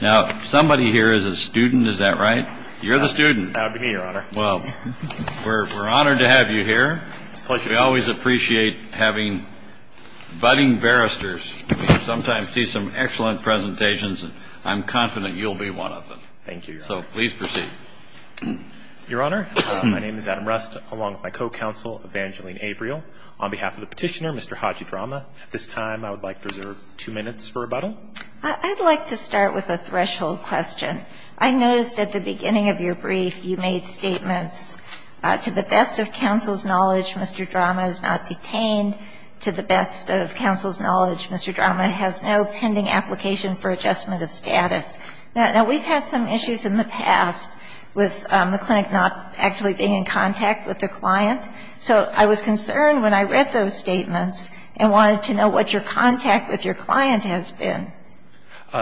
Now, somebody here is a student, is that right? You're the student. That would be me, Your Honor. Well, we're honored to have you here. It's a pleasure. We always appreciate having budding barristers. We sometimes see some excellent presentations, and I'm confident you'll be one of them. Thank you, Your Honor. So please proceed. Your Honor, my name is Adam Rust, along with my co-counsel, Evangeline Averill. On behalf of the petitioner, Mr. Haji Drammeh, at this time I would like to reserve two minutes for rebuttal. I'd like to start with a threshold question. I noticed at the beginning of your brief you made statements, to the best of counsel's knowledge, Mr. Drammeh is not detained. To the best of counsel's knowledge, Mr. Drammeh has no pending application for adjustment of status. Now, we've had some issues in the past with the clinic not actually being in contact with the client. So I was concerned when I read those statements and wanted to know what your contact with your client has been.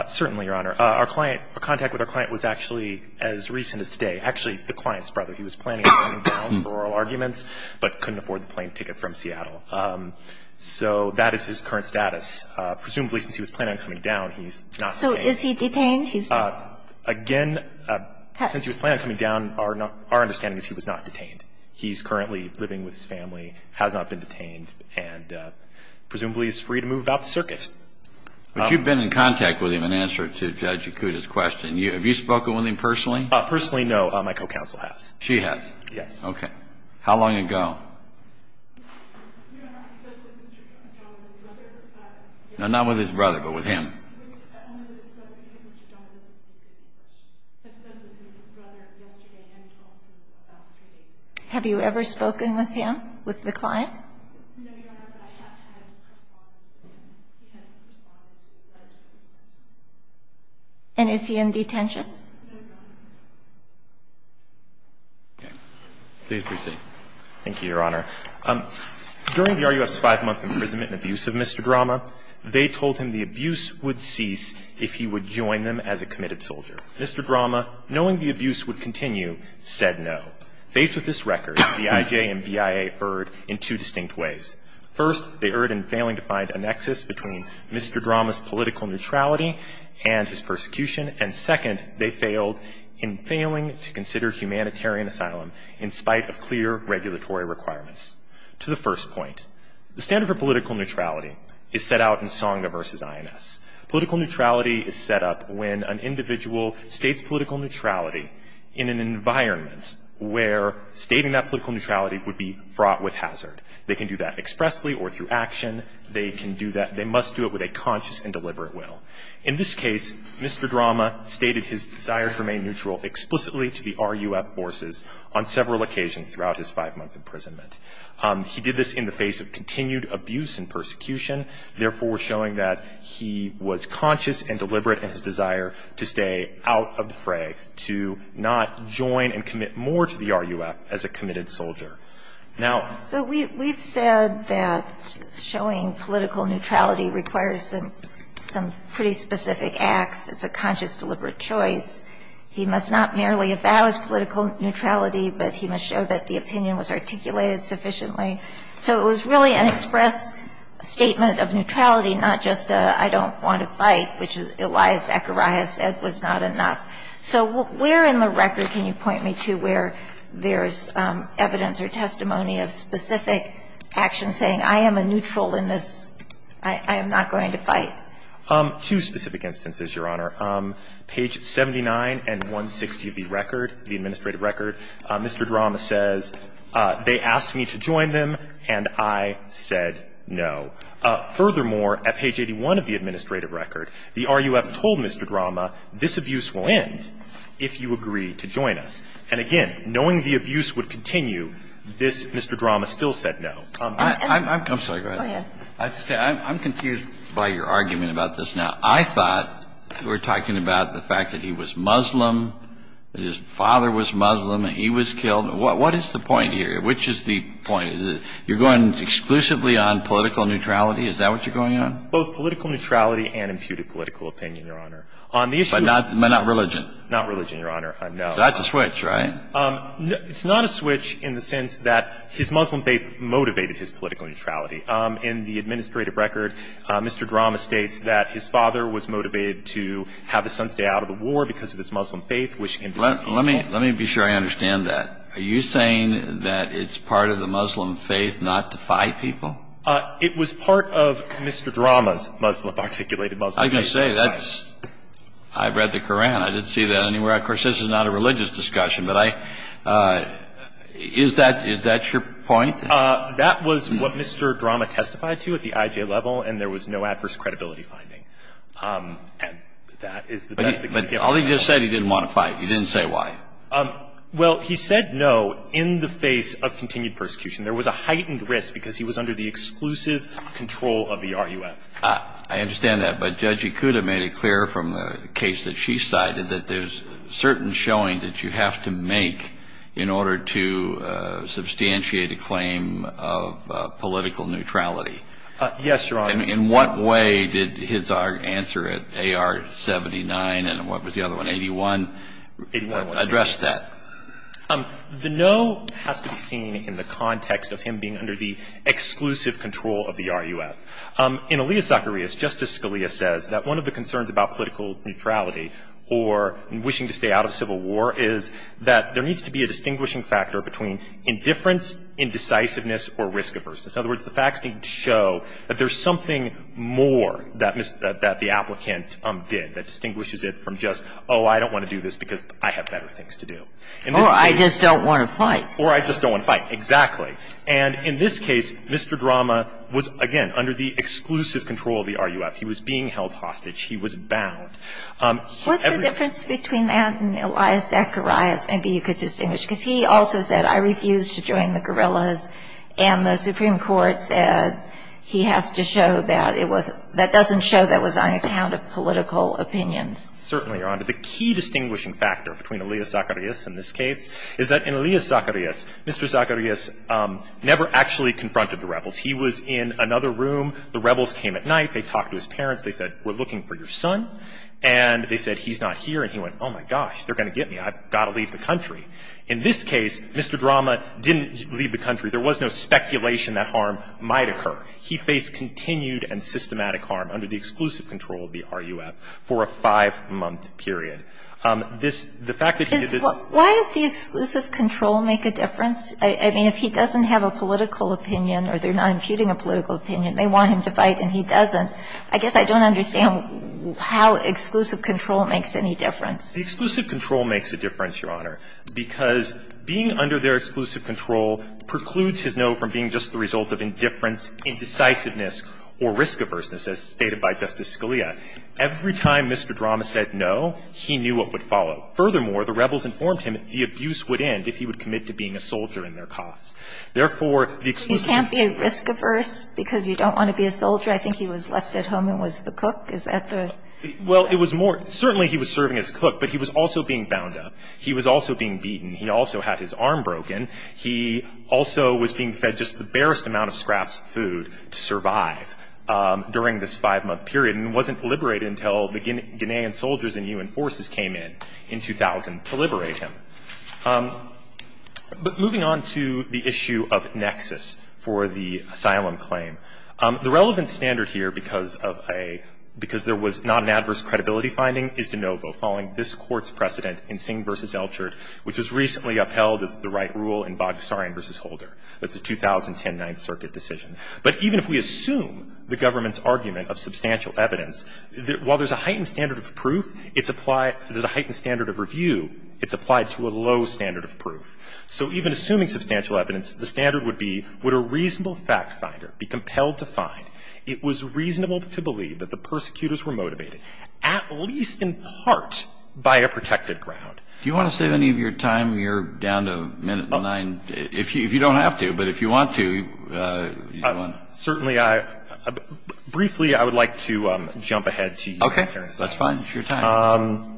Certainly, Your Honor. Our client, our contact with our client was actually as recent as today. Actually, the client's brother. He was planning on coming down for oral arguments, but couldn't afford the plane ticket from Seattle. So that is his current status. Presumably, since he was planning on coming down, he's not detained. So is he detained? He's not? Again, since he was planning on coming down, our understanding is he was not detained. He's currently living with his family, has not been detained, and presumably is free to move about the circuit. But you've been in contact with him in answer to Judge Yakuta's question. Have you spoken with him personally? Personally, no. My co-counsel has. She has? Yes. OK. How long ago? Your Honor, I've spent with Mr. Drammeh's brother. No, not with his brother, but with him. I only with his brother because Mr. Drammeh doesn't speak to any questions. I spent with his brother yesterday and also about three days ago. Have you ever spoken with him, with the client? No, Your Honor, but I have had correspondence with him. He has responded to letters that he sent. And is he in detention? No, Your Honor. Please proceed. Thank you, Your Honor. During the RUF's five-month imprisonment and abuse of Mr. Drammeh, they told him the abuse would cease if he would join them as a committed soldier. Mr. Drammeh, knowing the abuse would continue, said no. Faced with this record, the IJ and BIA erred in two distinct ways. First, they erred in failing to find a nexus between Mr. Drammeh's political neutrality and his persecution. And second, they failed in failing to consider humanitarian asylum in spite of clear regulatory requirements. To the first point, the standard for political neutrality is set out in Sangha versus INS. Political neutrality is set up when an individual states political neutrality in an environment where stating that political neutrality would be fraught with hazard. They can do that expressly or through action. They can do that. They must do it with a conscious and deliberate will. In this case, Mr. Drammeh stated his desire to remain neutral explicitly to the RUF forces on several occasions throughout his five-month imprisonment. He did this in the face of continued abuse and persecution, in his desire to stay out of the fray, to not join and commit more to the RUF as a committed soldier. So we've said that showing political neutrality requires some pretty specific acts. It's a conscious, deliberate choice. He must not merely avow his political neutrality, but he must show that the opinion was articulated sufficiently. So it was really an express statement of neutrality, not just a, I don't want to fight, which Elias Akariah said was not enough. So where in the record can you point me to where there is evidence or testimony of specific action saying, I am a neutral in this, I am not going to fight? Two specific instances, Your Honor. Page 79 and 160 of the record, the administrative record, Mr. Drammeh says, they asked me to join them, and I said no. Furthermore, at page 81 of the administrative record, the RUF told Mr. Drammeh, this abuse will end if you agree to join us. And again, knowing the abuse would continue, this Mr. Drammeh still said no. I'm sorry, go ahead. I have to say, I'm confused by your argument about this now. I thought you were talking about the fact that he was Muslim, that his father was Muslim, and he was killed. What is the point here? Which is the point? You're going exclusively on political neutrality? Is that what you're going on? Both political neutrality and imputed political opinion, Your Honor. On the issue of the ---- But not religion? Not religion, Your Honor, no. That's a switch, right? It's not a switch in the sense that his Muslim faith motivated his political neutrality. In the administrative record, Mr. Drammeh states that his father was motivated to have his son stay out of the war because of his Muslim faith, which can be peaceful. Let me be sure I understand that. Are you saying that it's part of the Muslim faith not to fight people? It was part of Mr. Drammeh's Muslim, articulated Muslim faith to fight. I can say that's ---- I read the Koran. I didn't see that anywhere. Of course, this is not a religious discussion, but I ---- is that your point? That was what Mr. Drammeh testified to at the IJ level, and there was no adverse credibility finding. And that is the best that can give me that. But all he just said, he didn't want to fight. He didn't say why. Well, he said no in the face of continued persecution. There was a heightened risk because he was under the exclusive control of the RUF. I understand that. But Judge Ikuda made it clear from the case that she cited that there's certain showing that you have to make in order to substantiate a claim of political neutrality. Yes, Your Honor. In what way did his answer at AR-79 and what was the other one, 81, address that? The no has to be seen in the context of him being under the exclusive control of the RUF. In Alia Zacharias, Justice Scalia says that one of the concerns about political neutrality or wishing to stay out of civil war is that there needs to be a distinguishing factor between indifference, indecisiveness, or risk averseness. In other words, the facts need to show that there's something more that the applicant did that distinguishes it from just, oh, I don't want to do this because I have better things to do. Or I just don't want to fight. Or I just don't want to fight, exactly. And in this case, Mr. Drama was, again, under the exclusive control of the RUF. He was being held hostage. He was bound. What's the difference between that and Alia Zacharias? Maybe you could distinguish, because he also said, I refuse to join the guerrillas. And the Supreme Court said he has to show that it was – that doesn't show that was on account of political opinions. Certainly, Your Honor. The key distinguishing factor between Alia Zacharias in this case is that in Alia Zacharias, Mr. Zacharias never actually confronted the rebels. He was in another room. The rebels came at night. They talked to his parents. They said, we're looking for your son. And they said, he's not here. And he went, oh, my gosh, they're going to get me. I've got to leave the country. In this case, Mr. Drama didn't leave the country. There was no speculation that harm might occur. He faced continued and systematic harm under the exclusive control of the RUF for a five-month period. This – the fact that he is his – Why does the exclusive control make a difference? I mean, if he doesn't have a political opinion or they're not imputing a political opinion, they want him to fight and he doesn't, I guess I don't understand how exclusive control makes any difference. The exclusive control makes a difference, Your Honor, because being under their exclusive control precludes his no from being just the result of indifference, indecisiveness, or risk averseness, as stated by Justice Scalia. Every time Mr. Drama said no, he knew what would follow. Furthermore, the rebels informed him the abuse would end if he would commit to being a soldier in their cause. Therefore, the exclusive control – But you can't be risk averse because you don't want to be a soldier? I think he was left at home and was the cook. Is that the – Well, it was more – certainly he was serving as cook, but he was also being bound up. He was also being beaten. He also had his arm broken. He also was being fed just the barest amount of scraps of food to survive during this five-month period and wasn't liberated until the Guinean soldiers and U.N. forces came in, in 2000, to liberate him. But moving on to the issue of nexus for the asylum claim, the relevant standard here because of a – because there was not an adverse credibility finding is de novo, following this Court's precedent in Singh v. Elchert, which was recently upheld as the right rule in Boghossarian v. Holder. That's a 2010 Ninth Circuit decision. But even if we assume the government's argument of substantial evidence, while there's a heightened standard of proof, it's applied – there's a heightened standard of review, it's applied to a low standard of proof. So even assuming substantial evidence, the standard would be, would a reasonable fact finder be compelled to find it was reasonable to believe that the persecutors were motivated, at least in part, by a protected ground? Do you want to save any of your time? You're down to a minute and a nine. If you don't have to, but if you want to, you want to. Certainly, I – briefly, I would like to jump ahead to the humanitarian asylum. Okay. That's fine. It's your time.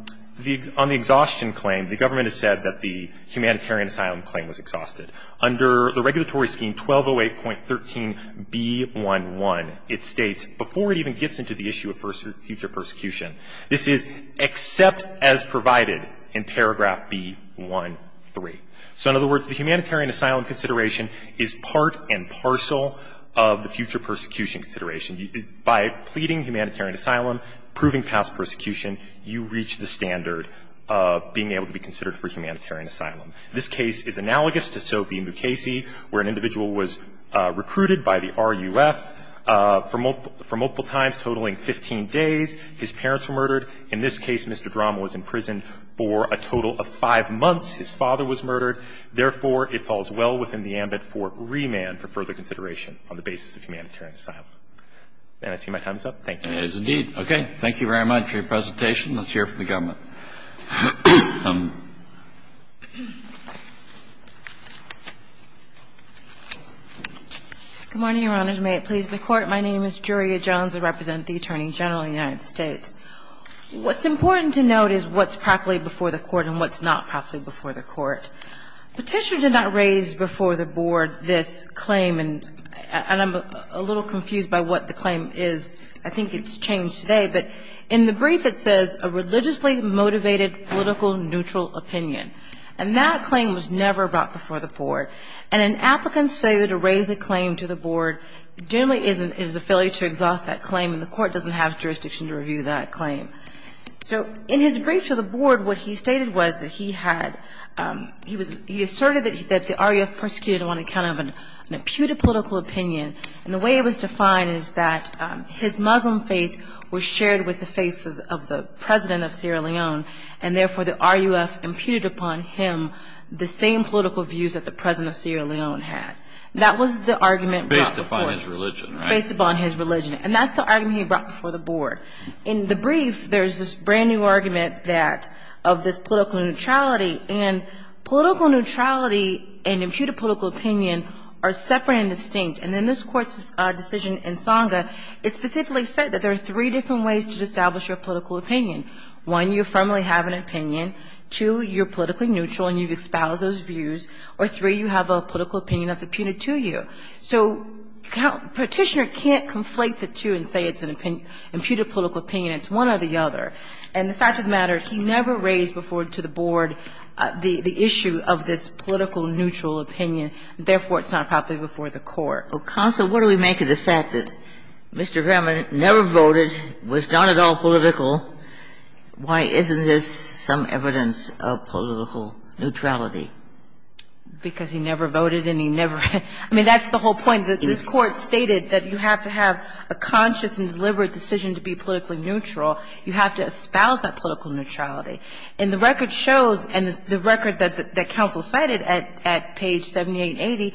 On the exhaustion claim, the government has said that the humanitarian asylum claim was exhausted. Under the regulatory scheme 1208.13b11, it states, before it even gets into the issue of future persecution, this is except as provided in paragraph b13. So in other words, the humanitarian asylum consideration is part and parcel of the future persecution consideration. By pleading humanitarian asylum, proving past persecution, you reach the standard of being able to be considered for humanitarian asylum. This case is analogous to Sobey v. Mukasey, where an individual was recruited by the RUF for multiple times, totaling 15 days. His parents were murdered. In this case, Mr. Drommel was in prison for a total of five months. His father was murdered. Therefore, it falls well within the ambit for remand for further consideration on the basis of humanitarian asylum. And I see my time is up. Thank you. As indeed. Okay. Thank you very much for your presentation. Let's hear from the government. Good morning, Your Honors. May it please the Court. My name is Julia Jones. I represent the Attorney General of the United States. What's important to note is what's properly before the Court and what's not properly before the Court. Petitioner did not raise before the Board this claim, and I'm a little confused by what the claim is. I think it's changed today. But in the brief, it says, a religiously motivated, political, neutral opinion. And that claim was never brought before the Board. And an applicant's failure to raise a claim to the Board generally is a failure to exhaust that claim, and the Court doesn't have jurisdiction to review that claim. So, in his brief to the Board, what he stated was that he had, he asserted that the RUF persecuted him on account of an imputed political opinion, and the way it was defined is that his Muslim faith was shared with the faith of the President of Sierra Leone, and therefore the RUF imputed upon him the same political views that the President of Sierra Leone had. That was the argument brought before him. Based upon his religion, right? And that's the argument he brought before the Board. In the brief, there's this brand new argument that, of this political neutrality. And political neutrality and imputed political opinion are separate and distinct. And in this Court's decision in Sanga, it specifically said that there are three different ways to establish your political opinion. One, you firmly have an opinion. Two, you're politically neutral and you've espoused those views. Or three, you have a political opinion that's imputed to you. So Petitioner can't conflate the two and say it's an imputed political opinion. It's one or the other. And the fact of the matter, he never raised before to the Board the issue of this political neutral opinion. Therefore, it's not properly before the Court. Kagan, so what do we make of the fact that Mr. Graman never voted, was not at all political? Why isn't this some evidence of political neutrality? Because he never voted and he never ran. I mean, that's the whole point. This Court stated that you have to have a conscious and deliberate decision to be politically neutral. You have to espouse that political neutrality. And the record shows, and the record that counsel cited at page 7880,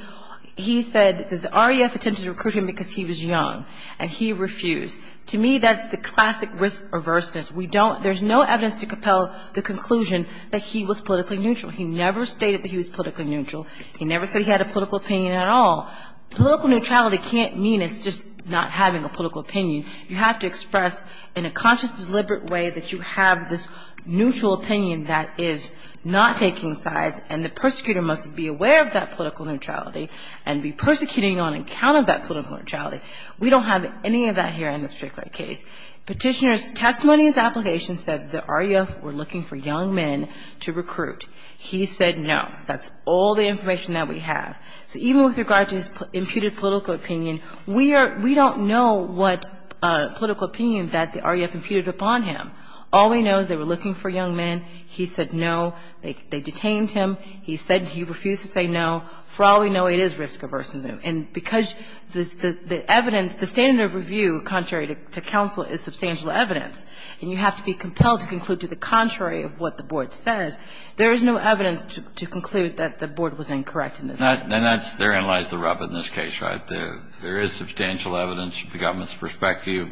he said the REF attempted to recruit him because he was young. And he refused. To me, that's the classic risk averseness. We don't – there's no evidence to compel the conclusion that he was politically neutral. He never stated that he was politically neutral. He never said he had a political opinion at all. Political neutrality can't mean it's just not having a political opinion. You have to express in a conscious and deliberate way that you have this neutral opinion that is not taking sides. And the persecutor must be aware of that political neutrality and be persecuting on account of that political neutrality. We don't have any of that here in this strict right case. Petitioner's testimony and his application said the REF were looking for young men to recruit. He said no. That's all the information that we have. So even with regard to his imputed political opinion, we are – we don't know what political opinion that the REF imputed upon him. All we know is they were looking for young men. He said no. They detained him. He said – he refused to say no. For all we know, it is risk averseness. And because the evidence – the standard of review contrary to counsel is substantial evidence and you have to be compelled to conclude to the contrary of what the board says, there is no evidence to conclude that the board was incorrect in this case. And that's – therein lies the rub in this case, right? There is substantial evidence from the government's perspective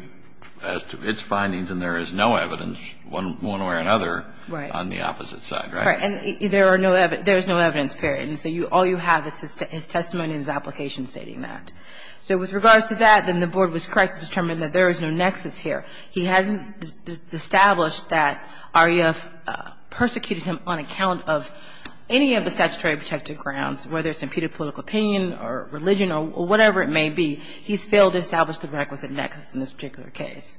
as to its findings and there is no evidence, one way or another, on the opposite side, right? Right. And there are no – there is no evidence, period. And so all you have is his testimony and his application stating that. So with regards to that, then the board was correct to determine that there is no nexus here. He hasn't established that REF persecuted him on account of any of the statutory protected grounds, whether it's imputed political opinion or religion or whatever it may be. He's failed to establish the requisite nexus in this particular case.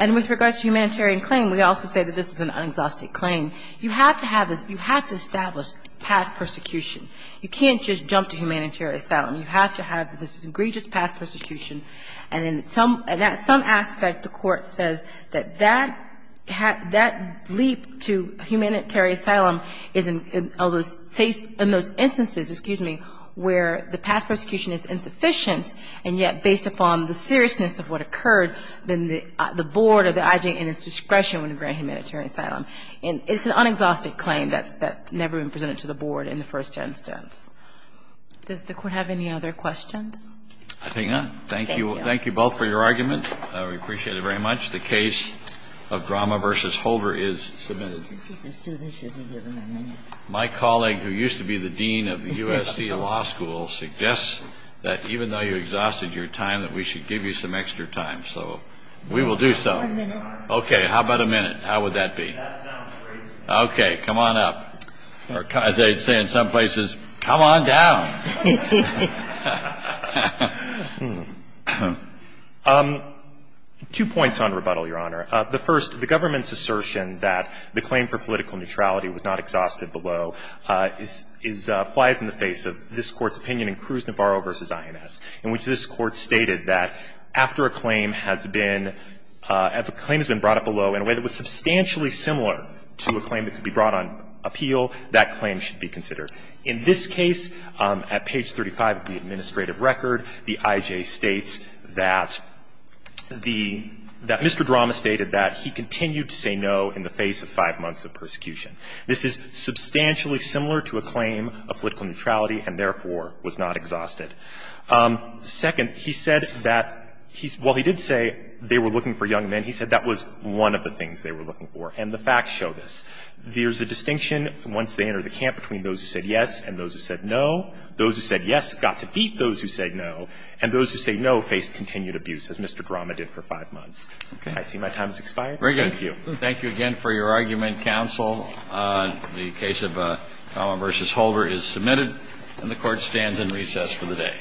And with regards to humanitarian claim, we also say that this is an unexhausted claim. You have to have this – you have to establish past persecution. You can't just jump to humanitarian asylum. You have to have this egregious past persecution. And in some – and at some aspect, the Court says that that – that leap to humanitarian asylum is in all those – in those instances, excuse me, where the past persecution is insufficient, and yet, based upon the seriousness of what occurred, then the board or the IJN is discretionary in humanitarian asylum. And it's an unexhausted claim that's never been presented to the board in the first instance. Does the Court have any other questions? I think not. Thank you. Thank you both for your argument. We appreciate it very much. The case of Drama v. Holder is submitted. My colleague, who used to be the dean of the USC Law School, suggests that even though you exhausted your time, that we should give you some extra time. So we will do so. Okay. How about a minute? How would that be? Okay. Come on up. As they say in some places, come on down. Two points on rebuttal, Your Honor. The first, the government's assertion that the claim for political neutrality was not exhausted below is – flies in the face of this Court's opinion in Cruz-Navarro v. INS, in which this Court stated that after a claim has been – if a claim has been brought up below in a way that was substantially similar to a claim that could be brought on appeal, that claim should be considered. In this case, at page 35 of the administrative record, the IJ states that the – that Mr. Drama stated that he continued to say no in the face of five months of persecution. This is substantially similar to a claim of political neutrality and, therefore, was not exhausted. Second, he said that he's – well, he did say they were looking for young men. He said that was one of the things they were looking for. And the facts show this. There's a distinction once they enter the camp between those who said yes and those who said no. Those who said yes got to beat those who said no, and those who said no faced continued abuse, as Mr. Drama did for five months. I see my time has expired. Thank you. Roberts. Thank you again for your argument, counsel. The case of Coma v. Holder is submitted, and the Court stands in recess for the day.